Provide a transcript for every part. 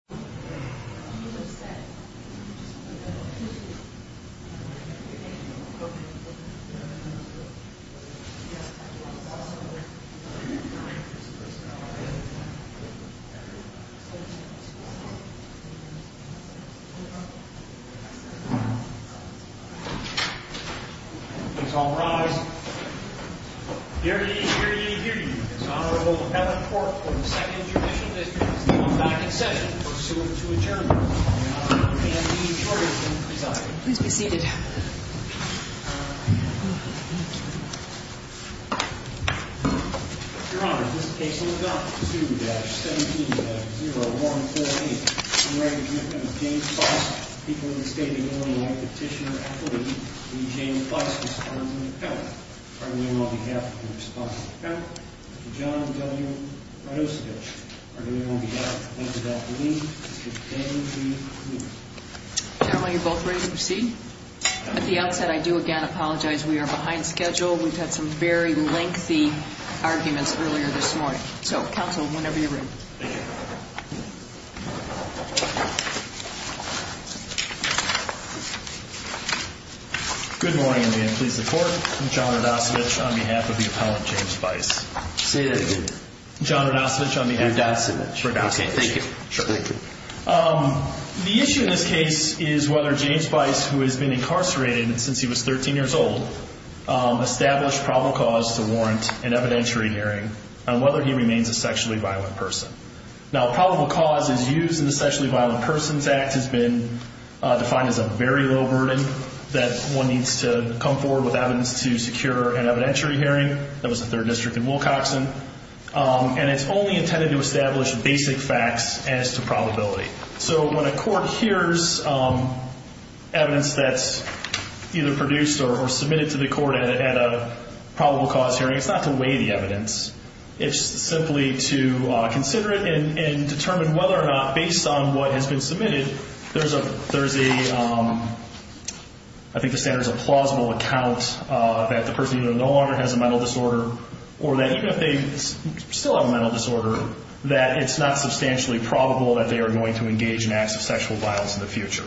Are you forgetting something? You know what, you're both ready to proceed? At the outset I do again apologize, we are behind schedule. We've had some very lengthy arguments earlier this morning. So, counsel, whenever you're ready. Thank you. Good morning and I am pleased to report John Rudasovich on behalf of the appellant, James Weiss. Say that again. John Rudasovich on behalf of... Rudasovich. Rudasovich. Okay, thank you. Sure. Thank you. The issue in this case is whether James Weiss, who has been incarcerated since he was 13 years old, established probable cause to warrant an evidentiary hearing on whether he remains a sexually violent person. Now, probable cause as used in the Sexually Violent Persons Act has been defined as a very low burden that one needs to come forward with evidence to secure an evidentiary hearing. That was the third district in Wilcoxon. And it's only intended to establish basic facts as to probability. So when a court hears evidence that's either produced or submitted to the court at a probable cause hearing, it's not to weigh the evidence. It's simply to consider it and determine whether or not, based on what has been submitted, there's a... I think the standard is a plausible account that the person either no longer has a mental disorder or that even if they still have a mental disorder, that it's not substantially probable that they are going to engage in acts of sexual violence in the future.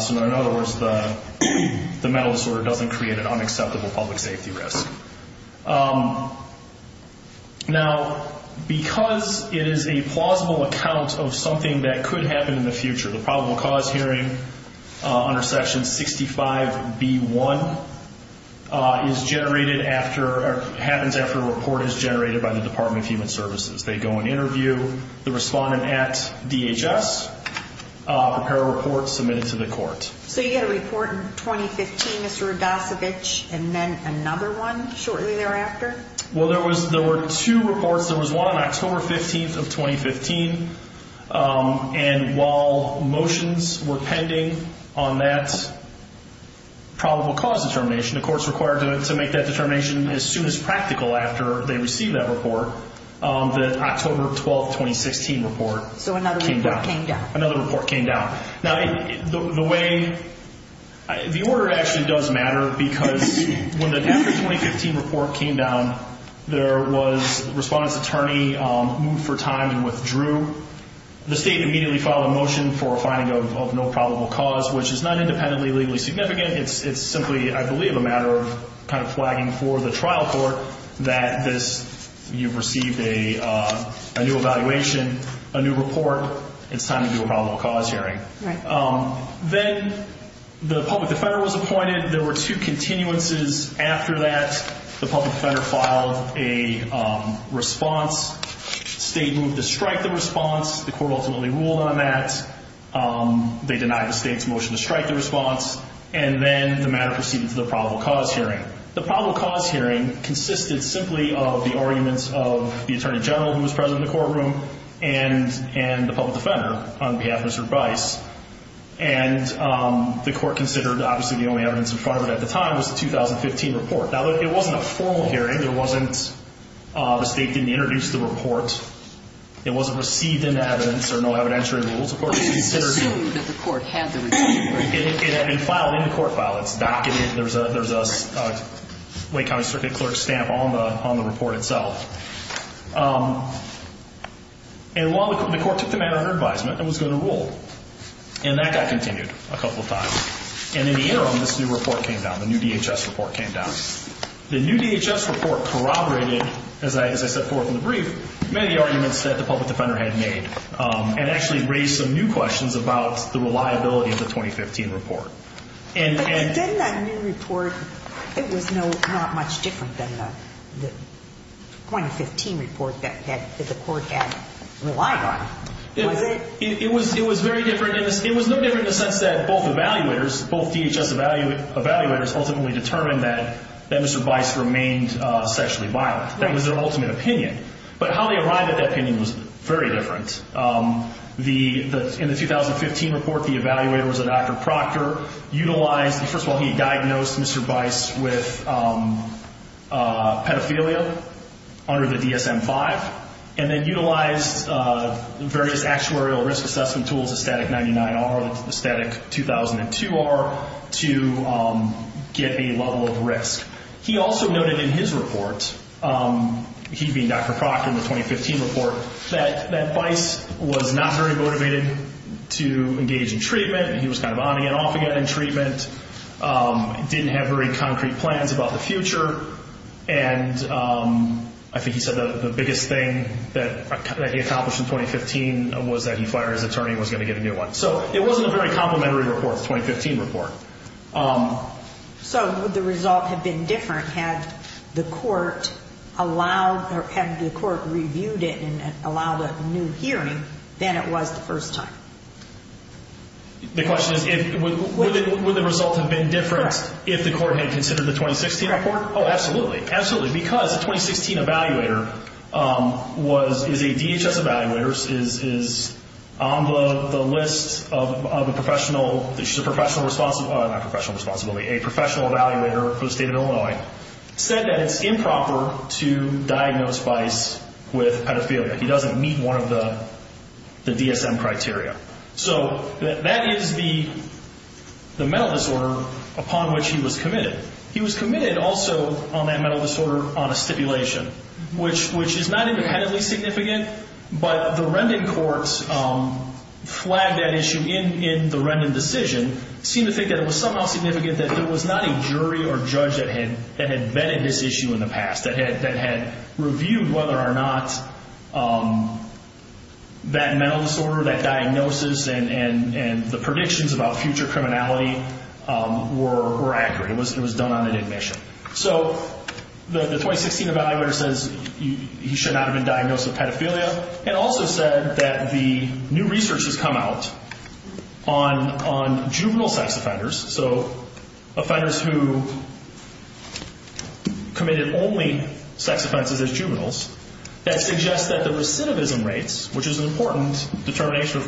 So in other words, the mental disorder doesn't create an unacceptable public safety risk. Now because it is a plausible account of something that could happen in the future, the probable cause hearing under Section 65B1 happens after a report is generated by the Department of Human Services. They go and interview the respondent at DHS, prepare a report, submit it to the court. So you had a report in 2015, Mr. Rudasevich, and then another one shortly thereafter? Well, there were two reports. There was one on October 15th of 2015, and while motions were pending on that probable cause determination, the court's required to make that determination as soon as practical after they receive that report, that October 12th, 2016 report came down. So another report came down? Another report came down. Now the way... the order actually does matter because when the 2015 report came down, there was... the respondent's attorney moved for time and withdrew. The state immediately filed a motion for a finding of no probable cause, which is not independently legally significant. It's simply, I believe, a matter of kind of flagging for the trial court that this... you've received a new evaluation, a new report. It's time to do a probable cause hearing. Then the public defender was appointed. There were two continuances after that. The public defender filed a response, state moved to strike the response. The court ultimately ruled on that. They denied the state's motion to strike the response, and then the matter proceeded to the probable cause hearing. The probable cause hearing consisted simply of the arguments of the attorney general who was present in the courtroom and the public defender on behalf of Mr. Bryce, and the court considered obviously the only evidence in front of it at the time was the 2015 report. Now, it wasn't a formal hearing. There wasn't... the state didn't introduce the report. It wasn't received into evidence or no evidentiary rules. Of course, it's considered... It's assumed that the court had the report. It had been filed in the court file. It's documented. There's a Lake County Circuit Clerk stamp on the report itself. While the court took the matter under advisement, it was going to rule. That got continued a couple of times. In the interim, this new report came down, the new DHS report came down. The new DHS report corroborated, as I set forth in the brief, many arguments that the public defender had made, and actually raised some new questions about the reliability of the 2015 report. Then that new report, it was not much different than the 2015 report that the court had relied on. Was it? It was very different. It was no different in the sense that both evaluators, both DHS evaluators ultimately determined that Mr. Bice remained sexually violent. That was their ultimate opinion. But how they arrived at that opinion was very different. In the 2015 report, the evaluator was a Dr. Proctor, utilized... First of all, he diagnosed Mr. Bice with pedophilia under the DSM-5, and then utilized various actuarial risk assessment tools, the Static 99R, the Static 2002R, to get a level of risk. He also noted in his report, he being Dr. Proctor in the 2015 report, that Bice was not very motivated to engage in treatment, and he was kind of on and off again in treatment. Didn't have very concrete plans about the future, and I think he said the biggest thing that he accomplished in 2015 was that he fired his attorney and was going to get a new one. So it wasn't a very complimentary report, the 2015 report. So would the result have been different had the court reviewed it and allowed a new hearing than it was the first time? The question is, would the result have been different if the court had considered the 2016 report? Oh, absolutely. Absolutely. Because the 2016 evaluator is a DHS evaluator, is on the list of a professional... She's a professional... Not professional responsibility. A professional evaluator for the state of Illinois, said that it's improper to diagnose Bice with pedophilia. He doesn't meet one of the DSM criteria. So that is the mental disorder upon which he was committed. He was committed also on that mental disorder on a stipulation, which is not independently significant, but the Rendon courts flagged that issue in the Rendon decision, seemed to think that it was somehow significant that there was not a jury or judge that had vetted this issue in the past, that had reviewed whether or not that mental disorder, that diagnosis and the predictions about future criminality were accurate. It was done on an admission. So the 2016 evaluator says he should not have been diagnosed with pedophilia, and also said that the new research has come out on juvenile sex offenders, so offenders who committed only sex offenses as juveniles, that suggests that the recidivism rates, which is an important determination,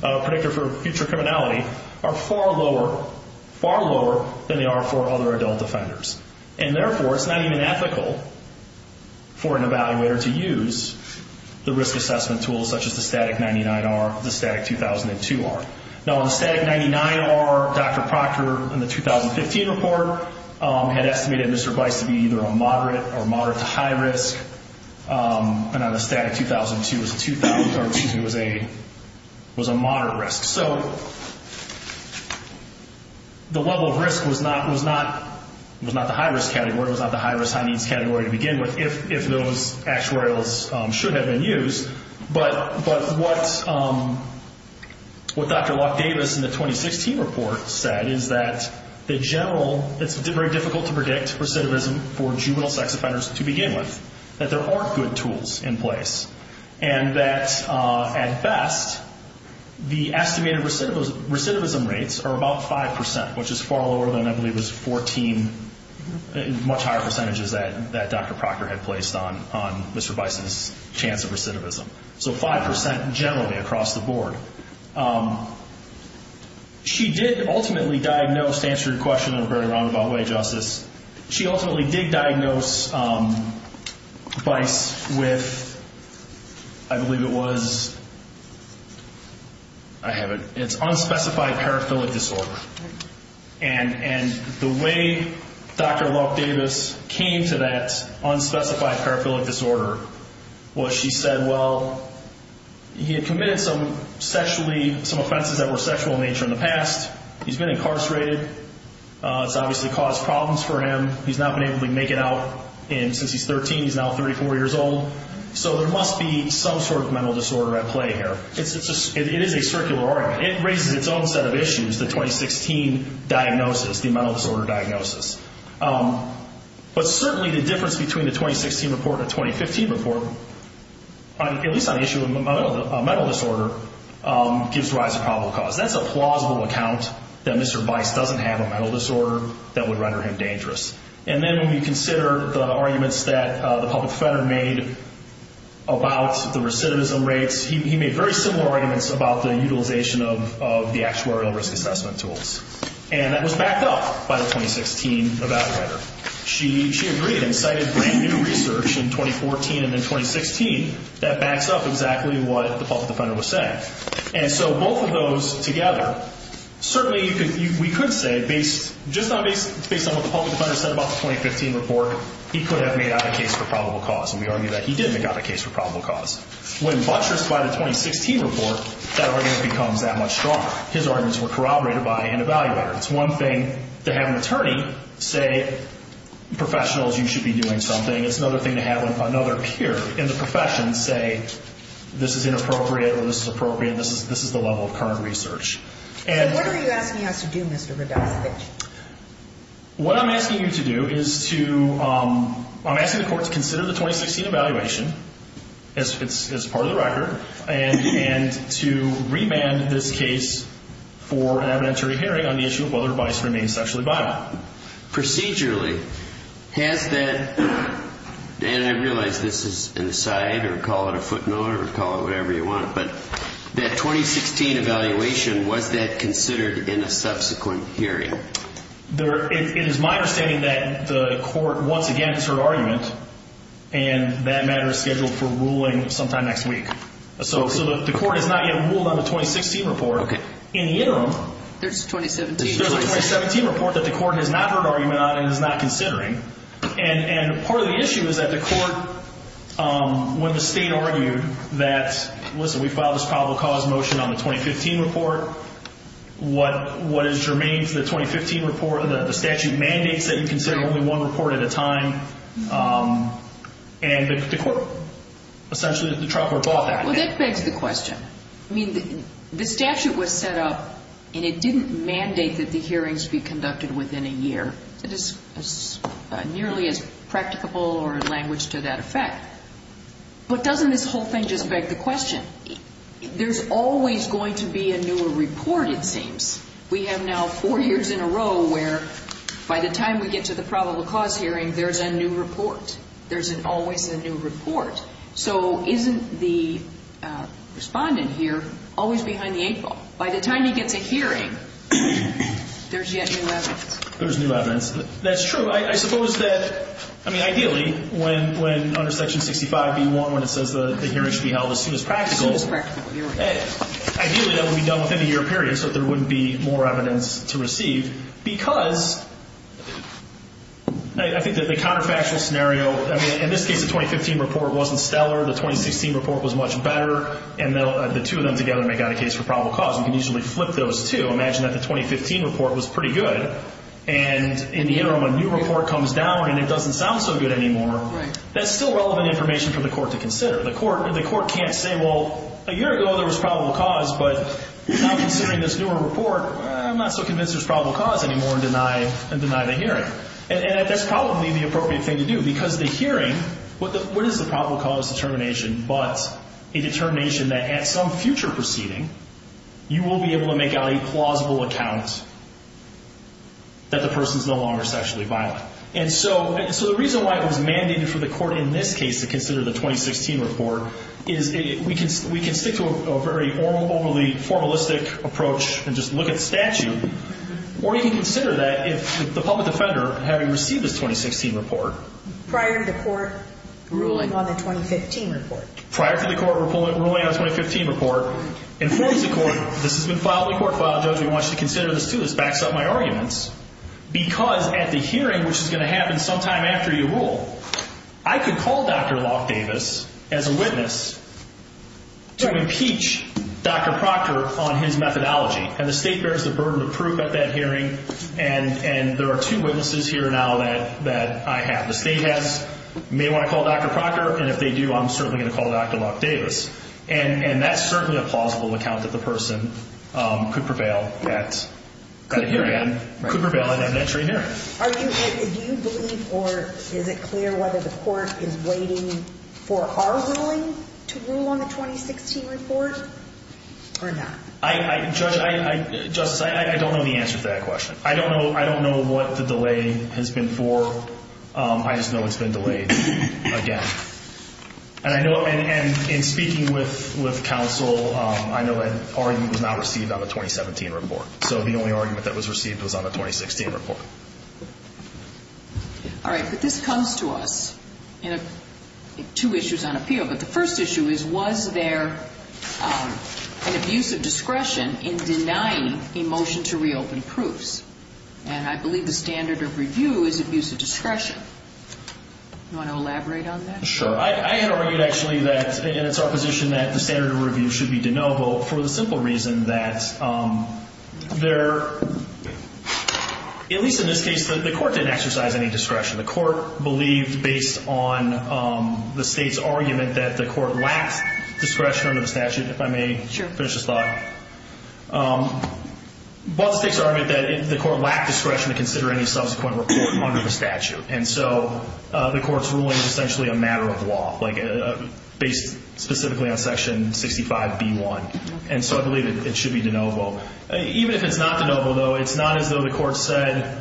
predictor for future criminality, are far lower, far lower than they are for other adult offenders. And therefore, it's not even ethical for an evaluator to use the risk assessment tools such as the STATIC-99-R, the STATIC-2002-R. Now, on the STATIC-99-R, Dr. Proctor, in the 2015 report, had estimated Mr. Weiss to be either a moderate or moderate to high risk, and on the STATIC-2002, it was a moderate risk. So the level of risk was not the high risk category, it was not the high risk, high needs category to begin with, if those actuarials should have been used. But what Dr. Locke-Davis in the 2016 report said is that the general, it's very difficult to predict recidivism for juvenile sex offenders to begin with, that there aren't good tools in place, and that at best, the estimated recidivism rates are about 5%, which is far lower than I believe it was 14, much higher percentages that Dr. Proctor had placed on Mr. Weiss's chance of recidivism. So 5% generally across the board. She did ultimately diagnose, to answer your question, I'm very wrong about the way, Justice, she ultimately did diagnose Weiss with, I believe it was, I have it, it's unspecified paraphilic disorder. And the way Dr. Locke-Davis came to that unspecified paraphilic disorder was she said, well, he had committed some sexually, some offenses that were sexual in nature in the past, he's been incarcerated, it's obviously caused problems for him, he's not been able to make it out since he's 13, he's now 34 years old, so there must be some sort of mental disorder at play here. It is a circular argument. It raises its own set of issues, the 2016 diagnosis, the mental disorder diagnosis. But certainly the difference between the 2016 report and the 2015 report, at least on the issue of mental disorder, gives rise to probable cause. That's a plausible account that Mr. Weiss doesn't have a mental disorder that would render him dangerous. And then when we consider the arguments that the public defender made about the recidivism rates, he made very similar arguments about the utilization of the actuarial risk assessment tools. And that was backed up by the 2016 evaluator. She agreed and cited brand new research in 2014 and in 2016 that backs up exactly what the public defender was saying. And so both of those together, certainly we could say, just based on what the public defender said about the 2015 report, he could have made out a case for probable cause. And we argue that he did make out a case for probable cause. When buttressed by the 2016 report, that argument becomes that much stronger. His arguments were corroborated by an evaluator. It's one thing to have an attorney say, professionals, you should be doing something. It's another thing to have another peer in the profession say, this is inappropriate or this is appropriate. This is the level of current research. And... So what are you asking us to do, Mr. Rodasich? What I'm asking you to do is to, I'm asking the court to consider the 2016 evaluation, as part of the record, and to remand this case for an evidentiary hearing on the issue of whether or not it remains sexually violent. Procedurally, has that, and I realize this is an aside, or call it a footnote, or call it whatever you want, but that 2016 evaluation, was that considered in a subsequent hearing? It is my understanding that the court, once again, has heard argument, and that matter is scheduled for ruling sometime next week. So the court has not yet ruled on the 2016 report. In the interim... There's a 2017 report. There's a 2017 report that the court has not heard argument on and is not considering. And part of the issue is that the court, when the state argued that, listen, we filed this 2015 report, the statute mandates that you consider only one report at a time, and the court, essentially, the trial court bought that. Well, that begs the question. I mean, the statute was set up, and it didn't mandate that the hearings be conducted within a year. It is nearly as practicable or in language to that effect. But doesn't this whole thing just beg the question? There's always going to be a newer report, it seems. We have now four years in a row where, by the time we get to the probable cause hearing, there's a new report. There's always a new report. So isn't the respondent here always behind the eight ball? By the time he gets a hearing, there's yet new evidence. There's new evidence. That's true. I suppose that, I mean, ideally, when under Section 65b1, when it says the hearing should be held as soon as practical... As soon as practical. Here we go. Ideally, that would be done within a year period, so that there wouldn't be more evidence to receive, because I think that the counterfactual scenario, I mean, in this case, the 2015 report wasn't stellar. The 2016 report was much better, and the two of them together make out a case for probable cause. You can usually flip those two. Imagine that the 2015 report was pretty good, and in the interim, a new report comes down, and it doesn't sound so good anymore. That's still relevant information for the court to consider. The court can't say, well, a year ago, there was probable cause, but now, considering this newer report, I'm not so convinced there's probable cause anymore, and deny the hearing. That's probably the appropriate thing to do, because the hearing, what is the probable cause determination, but a determination that at some future proceeding, you will be able to make out a plausible account that the person's no longer sexually violent. And so, the reason why it was mandated for the court in this case to consider the 2016 report, is we can stick to a very overly formalistic approach, and just look at statute, or you can consider that if the public defender, having received this 2016 report. Prior to the court ruling on the 2015 report. Prior to the court ruling on the 2015 report, informs the court, this has been filed in the court file, judge, we want you to consider this too. This backs up my arguments, because at the hearing, which is going to happen sometime after you rule, I can call Dr. Locke Davis as a witness to impeach Dr. Proctor on his methodology. And the state bears the burden of proof at that hearing, and there are two witnesses here now that I have. The state may want to call Dr. Proctor, and if they do, I'm certainly going to call Dr. Locke Davis. And that's certainly a plausible account that the person could prevail at that hearing. Could prevail at an entry hearing. Do you believe, or is it clear whether the court is waiting for our ruling to rule on the 2016 report, or not? Justice, I don't know the answer to that question. I don't know what the delay has been for. I just know it's been delayed again. And in speaking with counsel, I know that argument was not received on the 2017 report. So the only argument that was received was on the 2016 report. All right, but this comes to us in two issues on appeal. But the first issue is, was there an abuse of discretion in denying a motion to reopen proofs? And I believe the standard of review is abuse of discretion. Do you want to elaborate on that? Sure. I had argued actually that, and it's our position that the standard of review should be de novo for the simple reason that there, at least in this case, the court didn't exercise any discretion. The court believed based on the state's argument that the court lacked discretion under the statute. If I may finish this thought. Both states argued that the court lacked discretion to consider any subsequent report under the statute. And so the court's ruling is essentially a matter of law, based specifically on section 65B1. And so I believe it should be de novo. Even if it's not de novo, though, it's not as though the court said,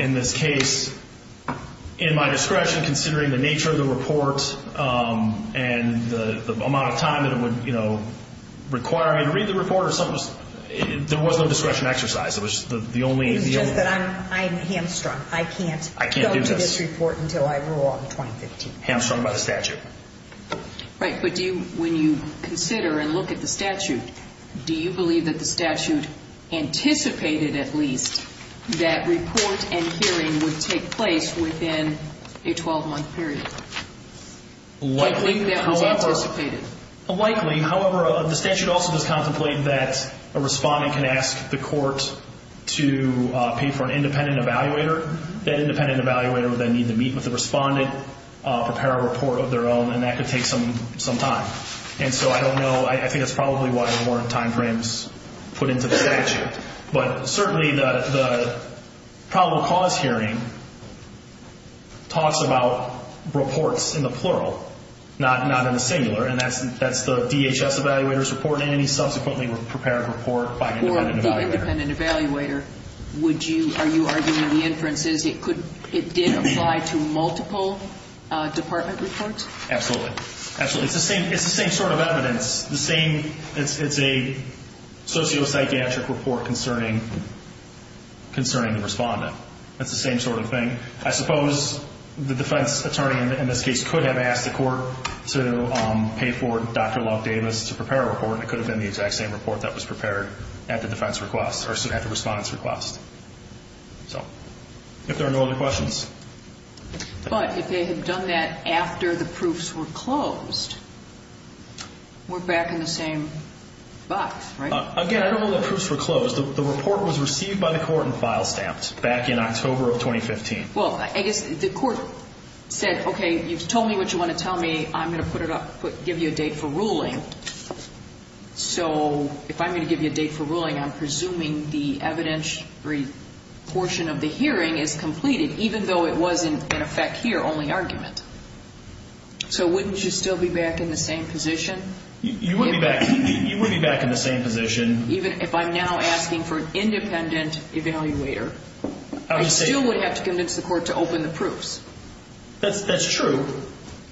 in this case, in my discretion, considering the nature of the report and the amount of time that it would require me to read the report or something, there was no discretion exercise. It was the only... It's just that I'm hamstrung. I can't go through this report until I rule on 2015. I can't do this. Hamstrung by the statute. Right. But do you, when you consider and look at the statute, do you believe that the statute anticipated, at least, that report and hearing would take place within a 12-month period? Likely. Do you believe that was anticipated? Likely. However, the statute also does contemplate that a respondent can ask the court to pay for an independent evaluator. That independent evaluator would then need to meet with the respondent, prepare a report of their own, and that could take some time. And so I don't know. I think that's probably why there weren't time frames put into the statute. But certainly the probable cause hearing talks about reports in the plural, not in the singular. And that's the DHS evaluator's report and any subsequently prepared report by an independent evaluator. Are you arguing the inference is it did apply to multiple department reports? Absolutely. Absolutely. It's the same sort of evidence. It's a sociopsychiatric report concerning the respondent. It's the same sort of thing. I suppose the defense attorney in this case could have asked the court to pay for Dr. Love Davis to prepare a report, and it could have been the exact same report that was prepared at the defense request or at the respondent's request. So if there are no other questions. But if they had done that after the proofs were closed, we're back in the same box, right? Again, I don't know that proofs were closed. The report was received by the court and file stamped back in October of 2015. Well, I guess the court said, okay, you've told me what you want to tell me. I'm going to put it up, give you a date for ruling. So if I'm going to give you a date for ruling, I'm presuming the evidentiary portion of the hearing is completed, even though it was in effect here, only argument. So wouldn't you still be back in the same position? You would be back in the same position. Even if I'm now asking for an independent evaluator, I still would have to convince the court to open the proofs. That's true.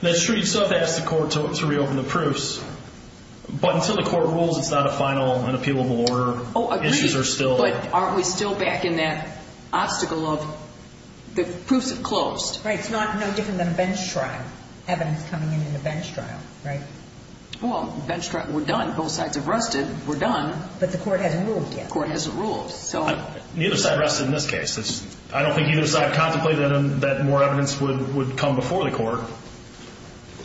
That's true. So I'd have to ask the court to reopen the proofs. But until the court rules, it's not a final and appealable order. Oh, agreed. Issues are still there. But aren't we still back in that obstacle of the proofs have closed? Right. It's no different than a bench trial, evidence coming in in a bench trial, right? Well, bench trial, we're done. Both sides have rested. We're done. But the court hasn't ruled yet. The court hasn't ruled. Neither side rested in this case. I don't think either side contemplated that more evidence would come before the court.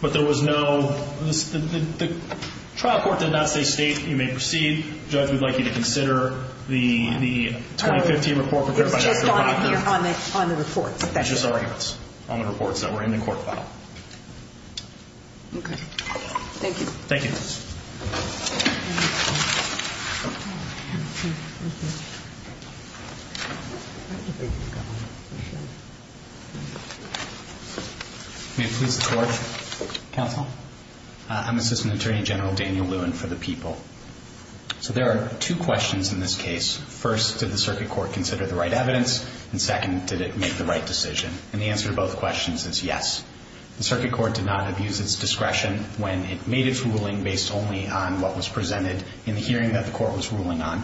But there was no – the trial court did not say state, you may proceed. Judge, we'd like you to consider the 2015 report prepared by Dr. McLaughlin. It was just on the reports. It was just arguments on the reports that were in the court file. Okay. Thank you. Thank you. May it please the Court. Counsel. I'm Assistant Attorney General Daniel Lewin for the people. So there are two questions in this case. First, did the circuit court consider the right evidence? And second, did it make the right decision? And the answer to both questions is yes. The circuit court did not abuse its discretion when it made its ruling based only on what was presented in the hearing that the court was ruling on.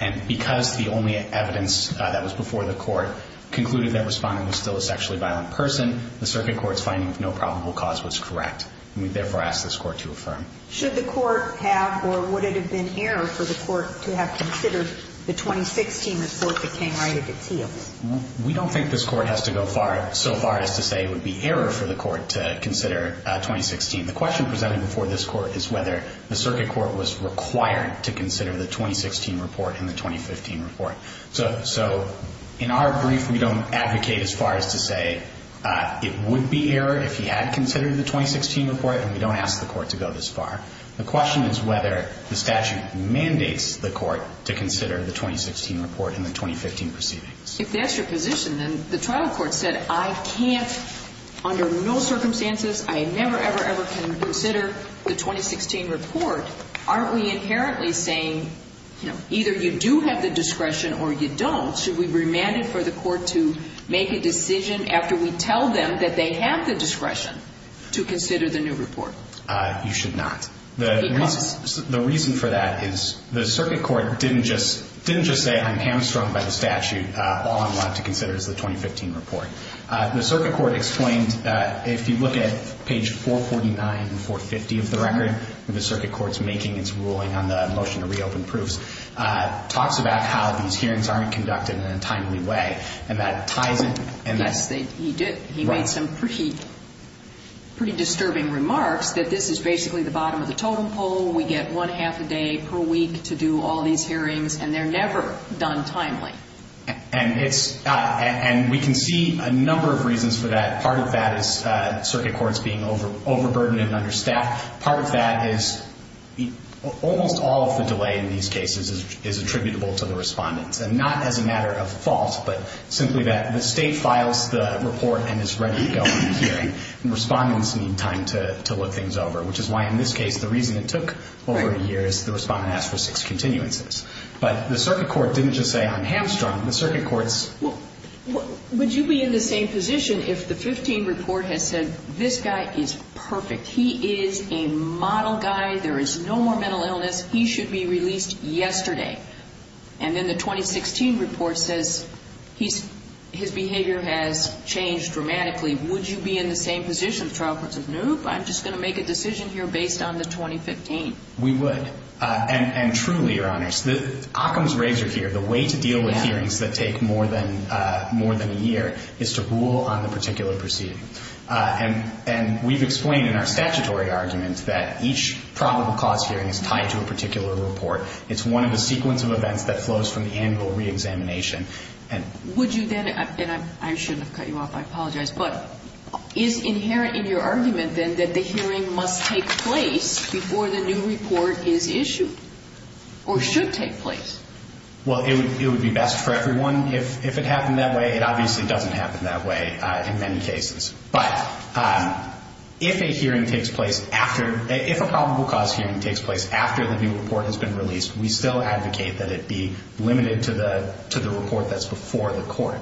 And because the only evidence that was before the court concluded that the respondent was still a sexually violent person, the circuit court's finding of no probable cause was correct. And we therefore ask this court to affirm. Should the court have or would it have been error for the court to have considered the 2016 report that came right at its heels? We don't think this court has to go so far as to say it would be error for the court to consider 2016. The question presented before this court is whether the circuit court was required to consider the 2016 report and the 2015 report. So in our brief, we don't advocate as far as to say it would be error if he had considered the 2016 report, and we don't ask the court to go this far. The question is whether the statute mandates the court to consider the 2016 report and the 2015 proceedings. If that's your position, then the trial court said, I can't, under no circumstances, I never, ever, ever can consider the 2016 report. Aren't we inherently saying either you do have the discretion or you don't? Should we remand it for the court to make a decision after we tell them that they have the discretion to consider the new report? You should not. The reason for that is the circuit court didn't just say, I'm hamstrung by the statute. All I'm allowed to consider is the 2015 report. The circuit court explained if you look at page 449 and 450 of the record, the circuit court's making its ruling on the motion to reopen proofs, talks about how these hearings aren't conducted in a timely way, and that ties in. Yes, he did. He made some pretty disturbing remarks that this is basically the bottom of the totem pole. We get one half a day per week to do all these hearings, and they're never done timely. And we can see a number of reasons for that. Part of that is circuit courts being overburdened under staff. Part of that is almost all of the delay in these cases is attributable to the respondents, and not as a matter of fault, but simply that the state files the report and is ready to go in the hearing, and respondents need time to look things over, which is why in this case the reason it took over a year is the respondent asked for six continuances. But the circuit court didn't just say, I'm hamstrung. The circuit court's. Would you be in the same position if the 15 report has said, this guy is perfect. He is a model guy. There is no more mental illness. He should be released yesterday. And then the 2016 report says his behavior has changed dramatically. Would you be in the same position if the trial court says, nope, I'm just going to make a decision here based on the 2015? We would. And truly, Your Honors, the Occam's razor here, the way to deal with hearings that take more than a year is to rule on the particular proceeding. And we've explained in our statutory argument that each probable cause hearing is tied to a particular report. It's one of the sequence of events that flows from the annual reexamination. And. Would you then, and I shouldn't have cut you off. I apologize. But is inherent in your argument, then, that the hearing must take place before the new report is issued? Or should take place? Well, it would be best for everyone if it happened that way. It obviously doesn't happen that way in many cases. But if a hearing takes place after, if a probable cause hearing takes place after the new report has been released, we still advocate that it be limited to the report that's before the court.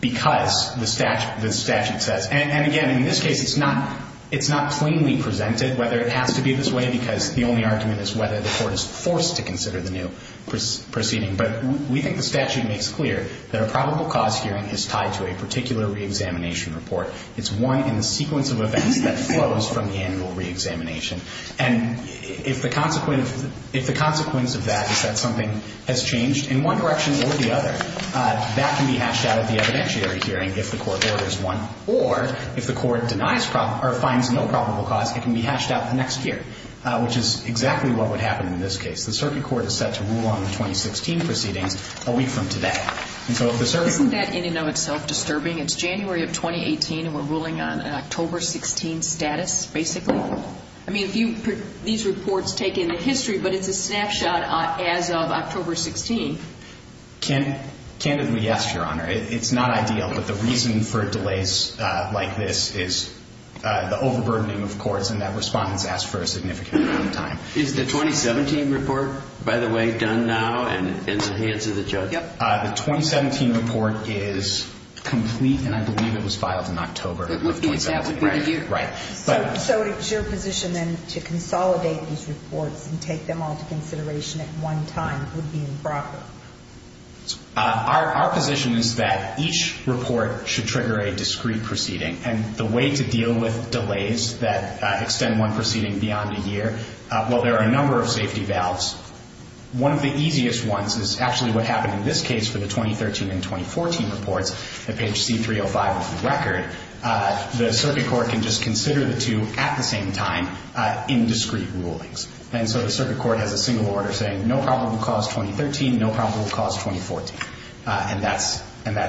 Because the statute says, and again, in this case, it's not plainly presented whether it has to be this way because the only argument is whether the court is forced to consider the new proceeding. But we think the statute makes clear that a probable cause hearing is tied to a particular reexamination report. It's one in the sequence of events that flows from the annual reexamination. And if the consequence of that is that something has changed in one direction or the other, that can be hashed out at the evidentiary hearing if the court orders one. Or if the court finds no probable cause, it can be hashed out the next year, which is exactly what would happen in this case. The circuit court is set to rule on the 2016 proceedings a week from today. Isn't that in and of itself disturbing? It's January of 2018, and we're ruling on October 16 status, basically? I mean, these reports take into history, but it's a snapshot as of October 16. Candidly, yes, Your Honor. It's not ideal, but the reason for delays like this is the overburdening of courts and that respondents ask for a significant amount of time. Is the 2017 report, by the way, done now and in the hands of the judge? Yep. The 2017 report is complete, and I believe it was filed in October. Exactly. Right here. Right. So it's your position then to consolidate these reports and take them all to consideration at one time would be improper? Our position is that each report should trigger a discrete proceeding, and the way to deal with delays that extend one proceeding beyond a year, while there are a number of safety valves, one of the easiest ones is actually what happened in this case for the 2013 and 2014 reports at page C-305 of the record. The circuit court can just consider the two at the same time in discrete rulings. And so the circuit court has a single order saying no probable cause 2013, no probable cause 2014. And that's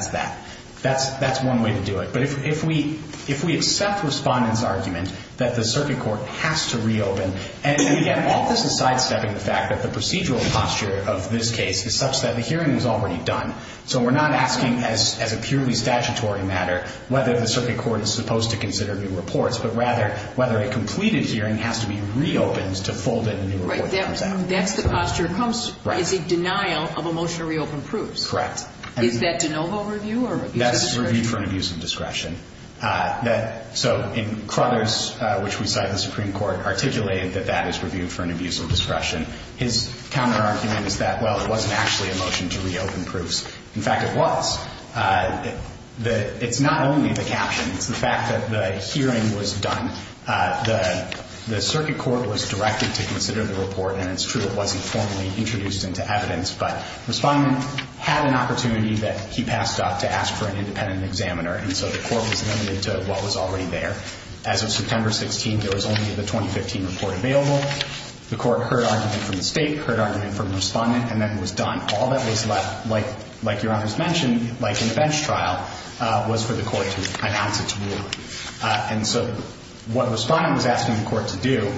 that. That's one way to do it. But if we accept respondents' argument that the circuit court has to reopen and, again, all this is sidestepping the fact that the procedural posture of this case is such that the hearing is already done, so we're not asking as a purely statutory matter whether the circuit court is supposed to consider new reports, but rather whether a completed hearing has to be reopened to fold in a new report that comes out. Right. That's the posture. Right. It's a denial of a motion to reopen proofs. Correct. Is that de novo review or review of discretion? That's review for an abuse of discretion. So in Crothers, which we cite in the Supreme Court, articulated that that is review for an abuse of discretion. His counter-argument is that, well, it wasn't actually a motion to reopen proofs. In fact, it was. It's not only the caption. It's the fact that the hearing was done. The circuit court was directed to consider the report, and it's true it wasn't formally introduced into evidence, but the respondent had an opportunity that he passed up to ask for an independent examiner, and so the court was limited to what was already there. As of September 16th, there was only the 2015 report available. The court heard argument from the State, heard argument from the respondent, and then was done. All that was left, like Your Honor has mentioned, like an events trial, was for the court to announce its ruling. And so what the respondent was asking the court to do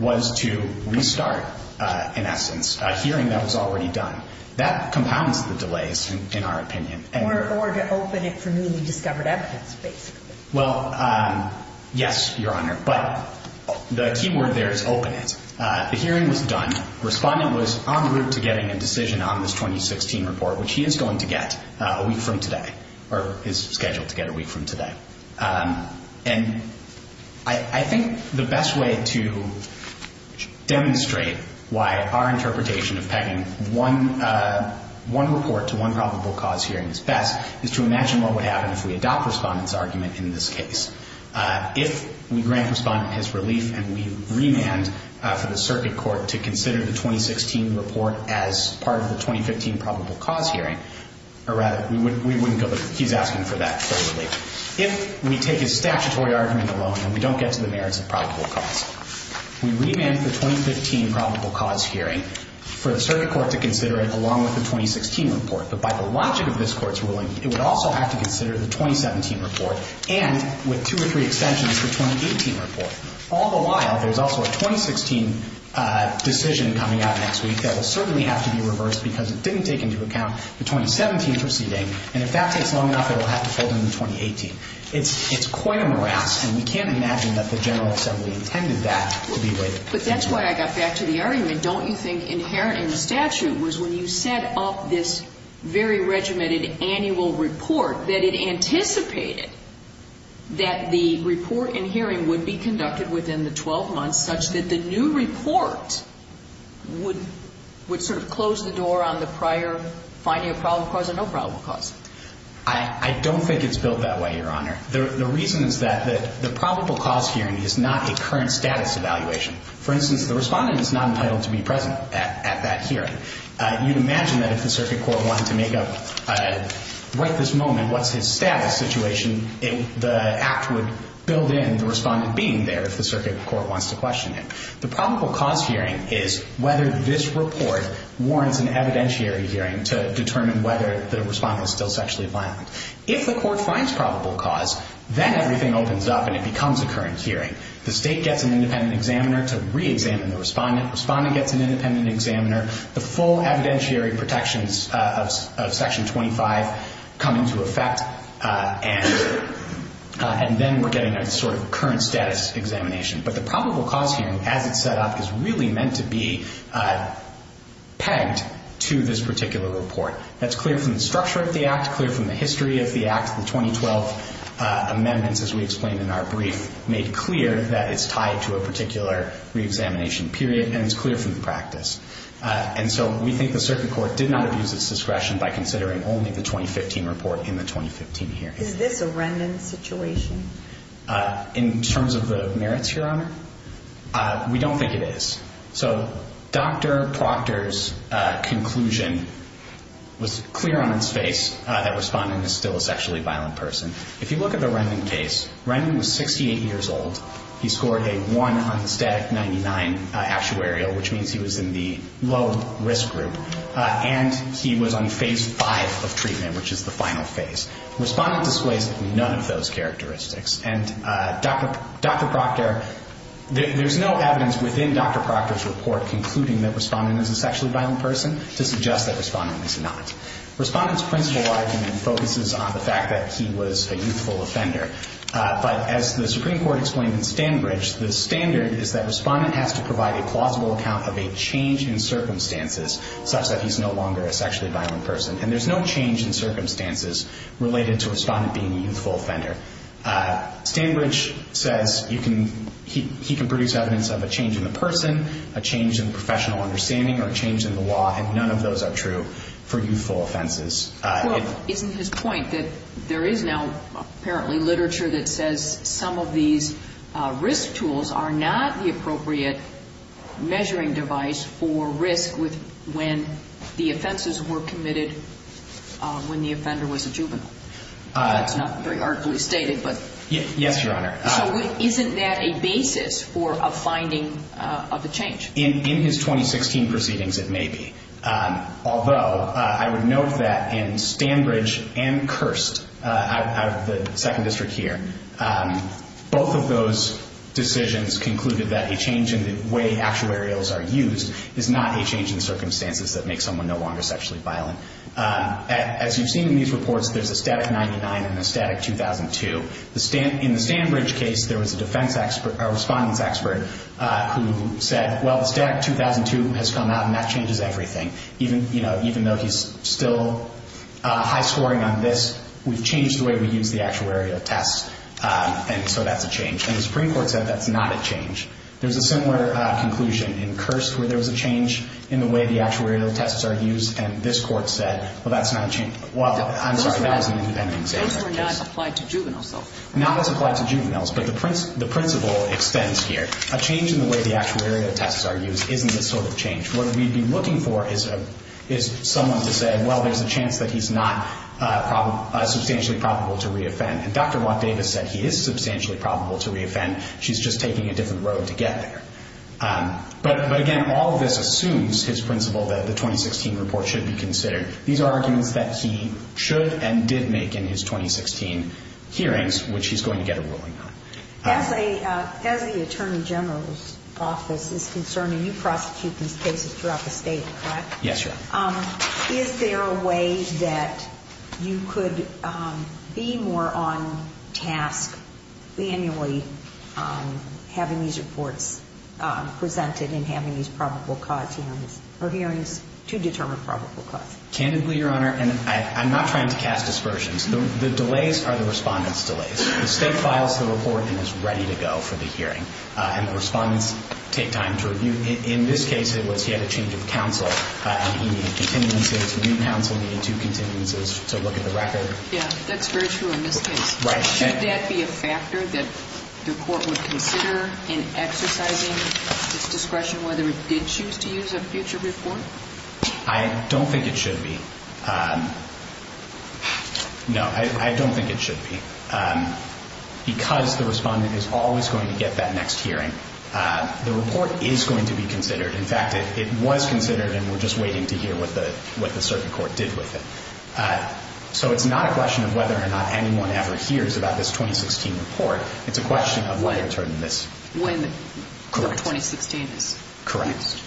was to restart, in essence, a hearing that was already done. That compounds the delays, in our opinion. Or to open it for newly discovered evidence, basically. Well, yes, Your Honor, but the key word there is open it. The hearing was done. Respondent was en route to getting a decision on this 2016 report, which he is going to get a week from today, or is scheduled to get a week from today. And I think the best way to demonstrate why our interpretation of pegging one report to one probable cause hearing is best is to imagine what would happen if we adopt respondent's argument in this case. If we grant respondent his relief and we remand for the circuit court to consider the 2016 report as part of the 2015 probable cause hearing, or rather, we wouldn't go to, he's asking for that full relief. If we take his statutory argument alone and we don't get to the merits of probable cause, we remand the 2015 probable cause hearing for the circuit court to consider it along with the 2016 report. But by the logic of this Court's ruling, it would also have to consider the 2017 report and, with two or three extensions, the 2018 report. All the while, there's also a 2016 decision coming out next week that will certainly have to be reversed because it didn't take into account the 2017 proceeding. And if that takes long enough, it will have to fold into 2018. It's quite a morass, and we can't imagine that the General Assembly intended that to be waived. But that's why I got back to the argument. Don't you think inherent in the statute was when you set up this very regimented annual report that it anticipated that the report in hearing would be conducted within the 12 months such that the new report would sort of close the door on the prior finding of probable cause or no probable cause? I don't think it's built that way, Your Honor. The reason is that the probable cause hearing is not a current status evaluation. For instance, the respondent is not entitled to be present at that hearing. You'd imagine that if the circuit court wanted to make up right this moment what's his status situation, the Act would build in the respondent being there if the circuit court wants to question him. The probable cause hearing is whether this report warrants an evidentiary hearing to determine whether the respondent is still sexually violent. If the court finds probable cause, then everything opens up and it becomes a current hearing. The State gets an independent examiner to reexamine the respondent. Respondent gets an independent examiner. The full evidentiary protections of Section 25 come into effect, and then we're getting a sort of current status examination. But the probable cause hearing, as it's set up, is really meant to be pegged to this particular report. That's clear from the structure of the Act, clear from the history of the Act. The 2012 amendments, as we explained in our brief, made clear that it's tied to a particular reexamination period, and it's clear from the practice. And so we think the circuit court did not abuse its discretion by considering only the 2015 report in the 2015 hearing. Is this a random situation? In terms of the merits, Your Honor, we don't think it is. So Dr. Proctor's conclusion was clear on its face that a respondent is still a sexually violent person. If you look at the Rendon case, Rendon was 68 years old. He scored a 1 on the static 99 actuarial, which means he was in the low-risk group, and he was on phase 5 of treatment, which is the final phase. Respondent displays none of those characteristics. And Dr. Proctor, there's no evidence within Dr. Proctor's report concluding that respondent is a sexually violent person to suggest that respondent is not. Respondent's principle argument focuses on the fact that he was a youthful offender. But as the Supreme Court explained in Stanbridge, the standard is that respondent has to provide a plausible account of a change in circumstances such that he's no longer a sexually violent person. And there's no change in circumstances related to respondent being a youthful offender. Stanbridge says he can produce evidence of a change in the person, a change in professional understanding, or a change in the law, and none of those are true for youthful offenses. Well, isn't his point that there is now apparently literature that says some of these risk tools are not the appropriate measuring device for risk when the offenses were committed when the offender was a juvenile? That's not very artfully stated, but. Yes, Your Honor. So isn't that a basis for a finding of a change? In his 2016 proceedings, it may be. Although, I would note that in Stanbridge and Kirst, out of the Second District here, both of those decisions concluded that a change in the way actuarials are used is not a change in circumstances that makes someone no longer sexually violent. As you've seen in these reports, there's a static 99 and a static 2002. In the Stanbridge case, there was a defense expert, a respondent's expert, who said, well, the static 2002 has come out, and that changes everything. Even though he's still high-scoring on this, we've changed the way we use the actuarial tests, and so that's a change. And the Supreme Court said that's not a change. There's a similar conclusion in Kirst where there was a change in the way the actuarial tests are used, and this Court said, well, that's not a change. Well, I'm sorry, that was an independent example. Those were not applied to juveniles, though. Not as applied to juveniles, but the principle extends here. A change in the way the actuarial tests are used isn't this sort of change. What we'd be looking for is someone to say, well, there's a chance that he's not substantially probable to reoffend. And Dr. Watt-Davis said he is substantially probable to reoffend. She's just taking a different road to get there. But, again, all of this assumes his principle that the 2016 report should be considered. These are arguments that he should and did make in his 2016 hearings, which he's going to get a ruling on. As the Attorney General's office is concerned, and you prosecute these cases throughout the State, correct? Yes, Your Honor. Is there a way that you could be more on task annually having these reports presented and having these probable cause hearings or hearings to determine probable cause? Candidly, Your Honor, and I'm not trying to cast aspersions, the delays are the Respondent's delays. The State files the report and is ready to go for the hearing, and the Respondents take time to review. In this case, it was he had a change of counsel, and he needed continuances. The new counsel needed two continuances to look at the record. Yeah, that's very true in this case. Should that be a factor that the Court would consider in exercising its discretion whether it did choose to use a future report? I don't think it should be. No, I don't think it should be. Because the Respondent is always going to get that next hearing, the report is going to be considered. In fact, it was considered, and we're just waiting to hear what the circuit court did with it. So it's not a question of whether or not anyone ever hears about this 2016 report. It's a question of whether or not this… When the 2016 is. Correct.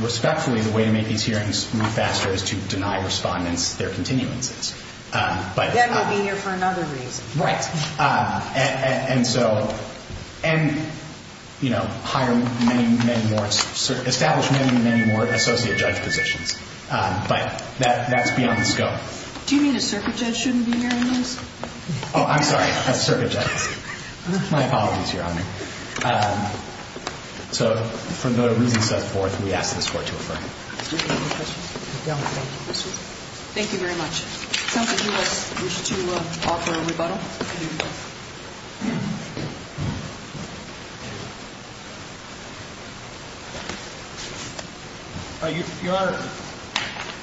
Respectfully, the way to make these hearings move faster is to deny Respondents their continuances. Then we'll be here for another reason. Right. And hire many, many more, establish many, many more associate judge positions. But that's beyond the scope. Do you mean a circuit judge shouldn't be hearing this? Oh, I'm sorry, a circuit judge. My apologies, Your Honor. So for no other reasons set forth, we ask that this Court to affirm. Thank you very much. Counsel, do you wish to offer a rebuttal? Your Honor,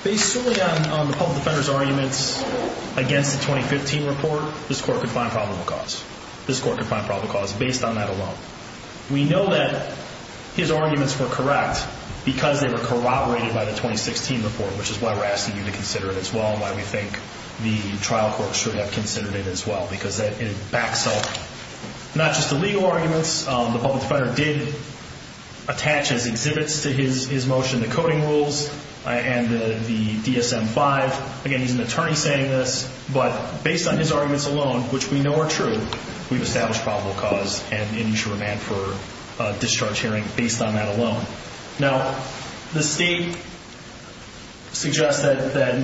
based solely on the public defender's arguments against the 2015 report, this Court can find probable cause. This Court can find probable cause based on that alone. We know that his arguments were correct because they were corroborated by the 2016 report, which is why we're asking you to consider it as well and why we think the trial court should have considered it as well, because it backs up not just the legal arguments. The public defender did attach as exhibits to his motion the coding rules and the DSM-5. Again, he's an attorney saying this, but based on his arguments alone, which we know are true, we've established probable cause and initial remand for discharge hearing based on that alone. Now, the State suggests that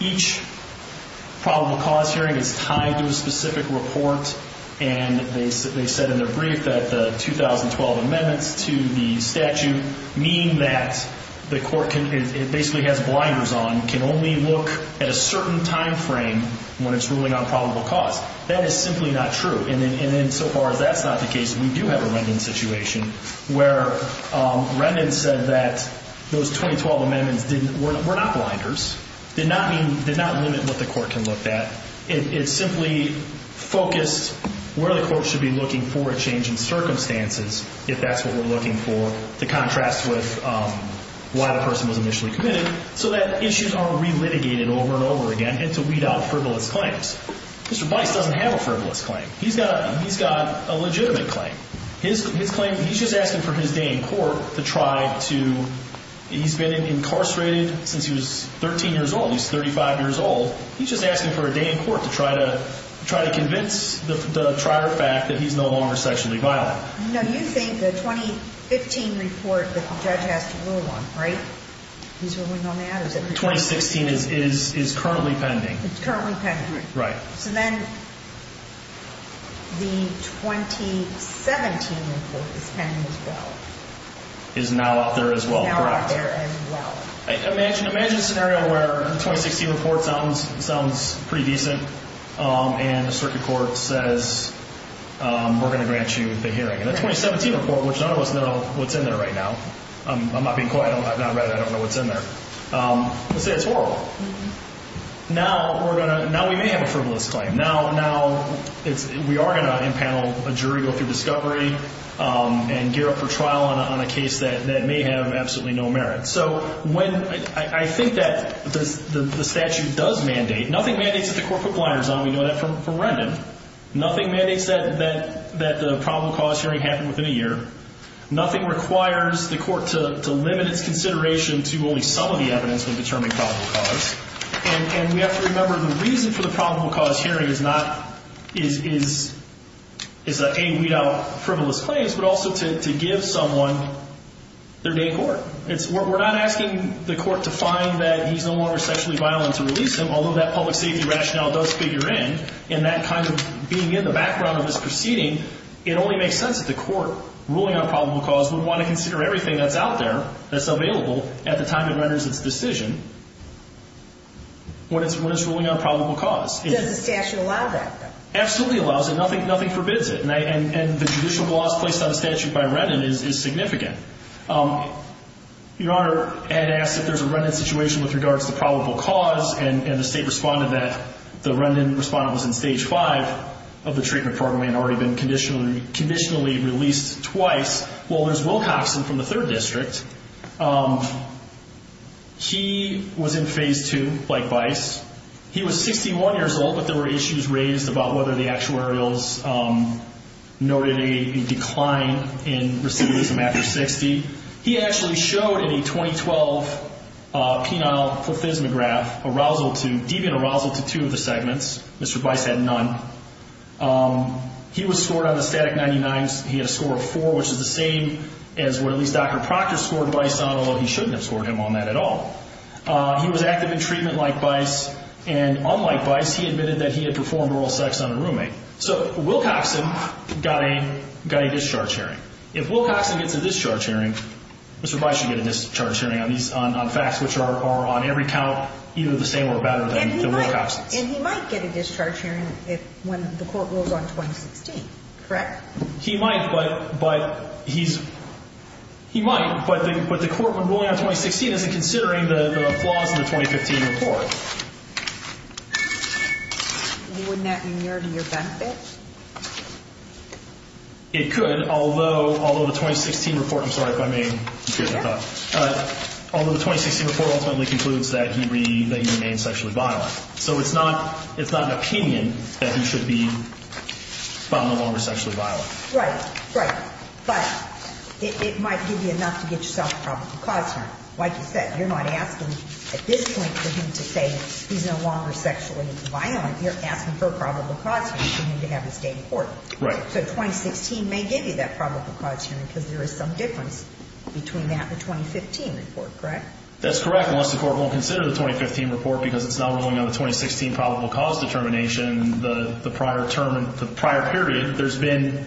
each probable cause hearing is tied to a specific report, and they said in their brief that the 2012 amendments to the statute mean that the Court basically has blinders on, can only look at a certain time frame when it's ruling on probable cause. That is simply not true. And so far as that's not the case, we do have a remand situation where remand said that those 2012 amendments were not blinders, did not limit what the Court can look at. It simply focused where the Court should be looking for a change in circumstances if that's what we're looking for, to contrast with why the person was initially committed. So that issues are relitigated over and over again and to weed out frivolous claims. Mr. Bice doesn't have a frivolous claim. He's got a legitimate claim. His claim, he's just asking for his day in court to try to – he's been incarcerated since he was 13 years old, he's 35 years old. He's just asking for a day in court to try to convince the trier fact that he's no longer sexually violent. No, you think the 2015 report that the judge has to rule on, right? He's ruling on that? 2016 is currently pending. It's currently pending. Right. So then the 2017 report is pending as well. Is now out there as well, correct. Is now out there as well. Imagine a scenario where the 2016 report sounds pretty decent and the circuit court says we're going to grant you the hearing. And the 2017 report, which none of us know what's in there right now, I'm not being coy, I've not read it, I don't know what's in there. Let's say it's horrible. Now we may have a frivolous claim. Now we are going to impanel a jury, go through discovery, and gear up for trial on a case that may have absolutely no merit. So I think that the statute does mandate. Nothing mandates that the court put blinders on. We know that from Rendon. Nothing mandates that the probable cause hearing happen within a year. Nothing requires the court to limit its consideration to only some of the evidence to determine probable cause. And we have to remember the reason for the probable cause hearing is not a weed out frivolous claims, but also to give someone their day court. We're not asking the court to find that he's no longer sexually violent and to release him, although that public safety rationale does figure in. And that kind of being in the background of his proceeding, it only makes sense that the court ruling on probable cause would want to consider everything that's out there, that's available, at the time it renders its decision when it's ruling on probable cause. Does the statute allow that, though? Absolutely allows it. Nothing forbids it. And the judicial laws placed on a statute by Rendon is significant. Your Honor, Ed asked if there's a Rendon situation with regards to probable cause, and the state responded that the Rendon respondent was in Stage 5 of the treatment program and had already been conditionally released twice. Well, there's Wilcoxon from the 3rd District. He was in Phase 2, like Bice. He was 61 years old, but there were issues raised about whether the actuarials noted a decline in receiving him after 60. He actually showed in a 2012 penile plethysmograph, deviant arousal to two of the segments. Mr. Bice had none. He was scored on the static 99s. He had a score of 4, which is the same as what at least Dr. Proctor scored Bice on, although he shouldn't have scored him on that at all. He was active in treatment like Bice, and unlike Bice, he admitted that he had performed oral sex on a roommate. So Wilcoxon got a discharge hearing. If Wilcoxon gets a discharge hearing, Mr. Bice should get a discharge hearing on facts which are on every count either the same or better than Wilcoxon's. And he might get a discharge hearing when the court rules on 2016, correct? He might, but the court, when ruling on 2016, isn't considering the flaws in the 2015 report. Wouldn't that be near to your benefit? It could, although the 2016 report, I'm sorry if I may interrupt. Yes. Although the 2016 report ultimately concludes that he remains sexually violent. So it's not an opinion that he should be no longer sexually violent. Right, right. But it might give you enough to get yourself a probable cause hearing. Like you said, you're not asking at this point for him to say he's no longer sexually violent. You're asking for a probable cause hearing for him to have his day in court. Right. So 2016 may give you that probable cause hearing because there is some difference between that and the 2015 report, correct? That's correct, unless the court won't consider the 2015 report because it's not ruling on the 2016 probable cause determination, the prior term and the prior period. There's been,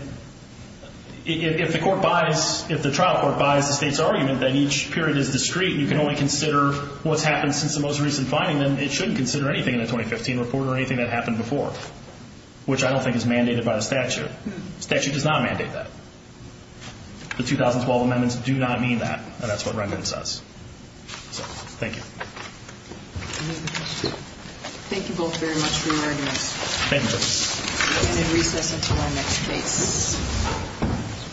if the court buys, if the trial court buys the state's argument that each period is discrete and you can only consider what's happened since the most recent finding, then it shouldn't consider anything in the 2015 report or anything that happened before, which I don't think is mandated by the statute. The statute does not mandate that. The 2012 amendments do not mean that, and that's what Rendon says. So, thank you. Any other questions? Thank you both very much for your arguments. Thank you. And then recess until our next case.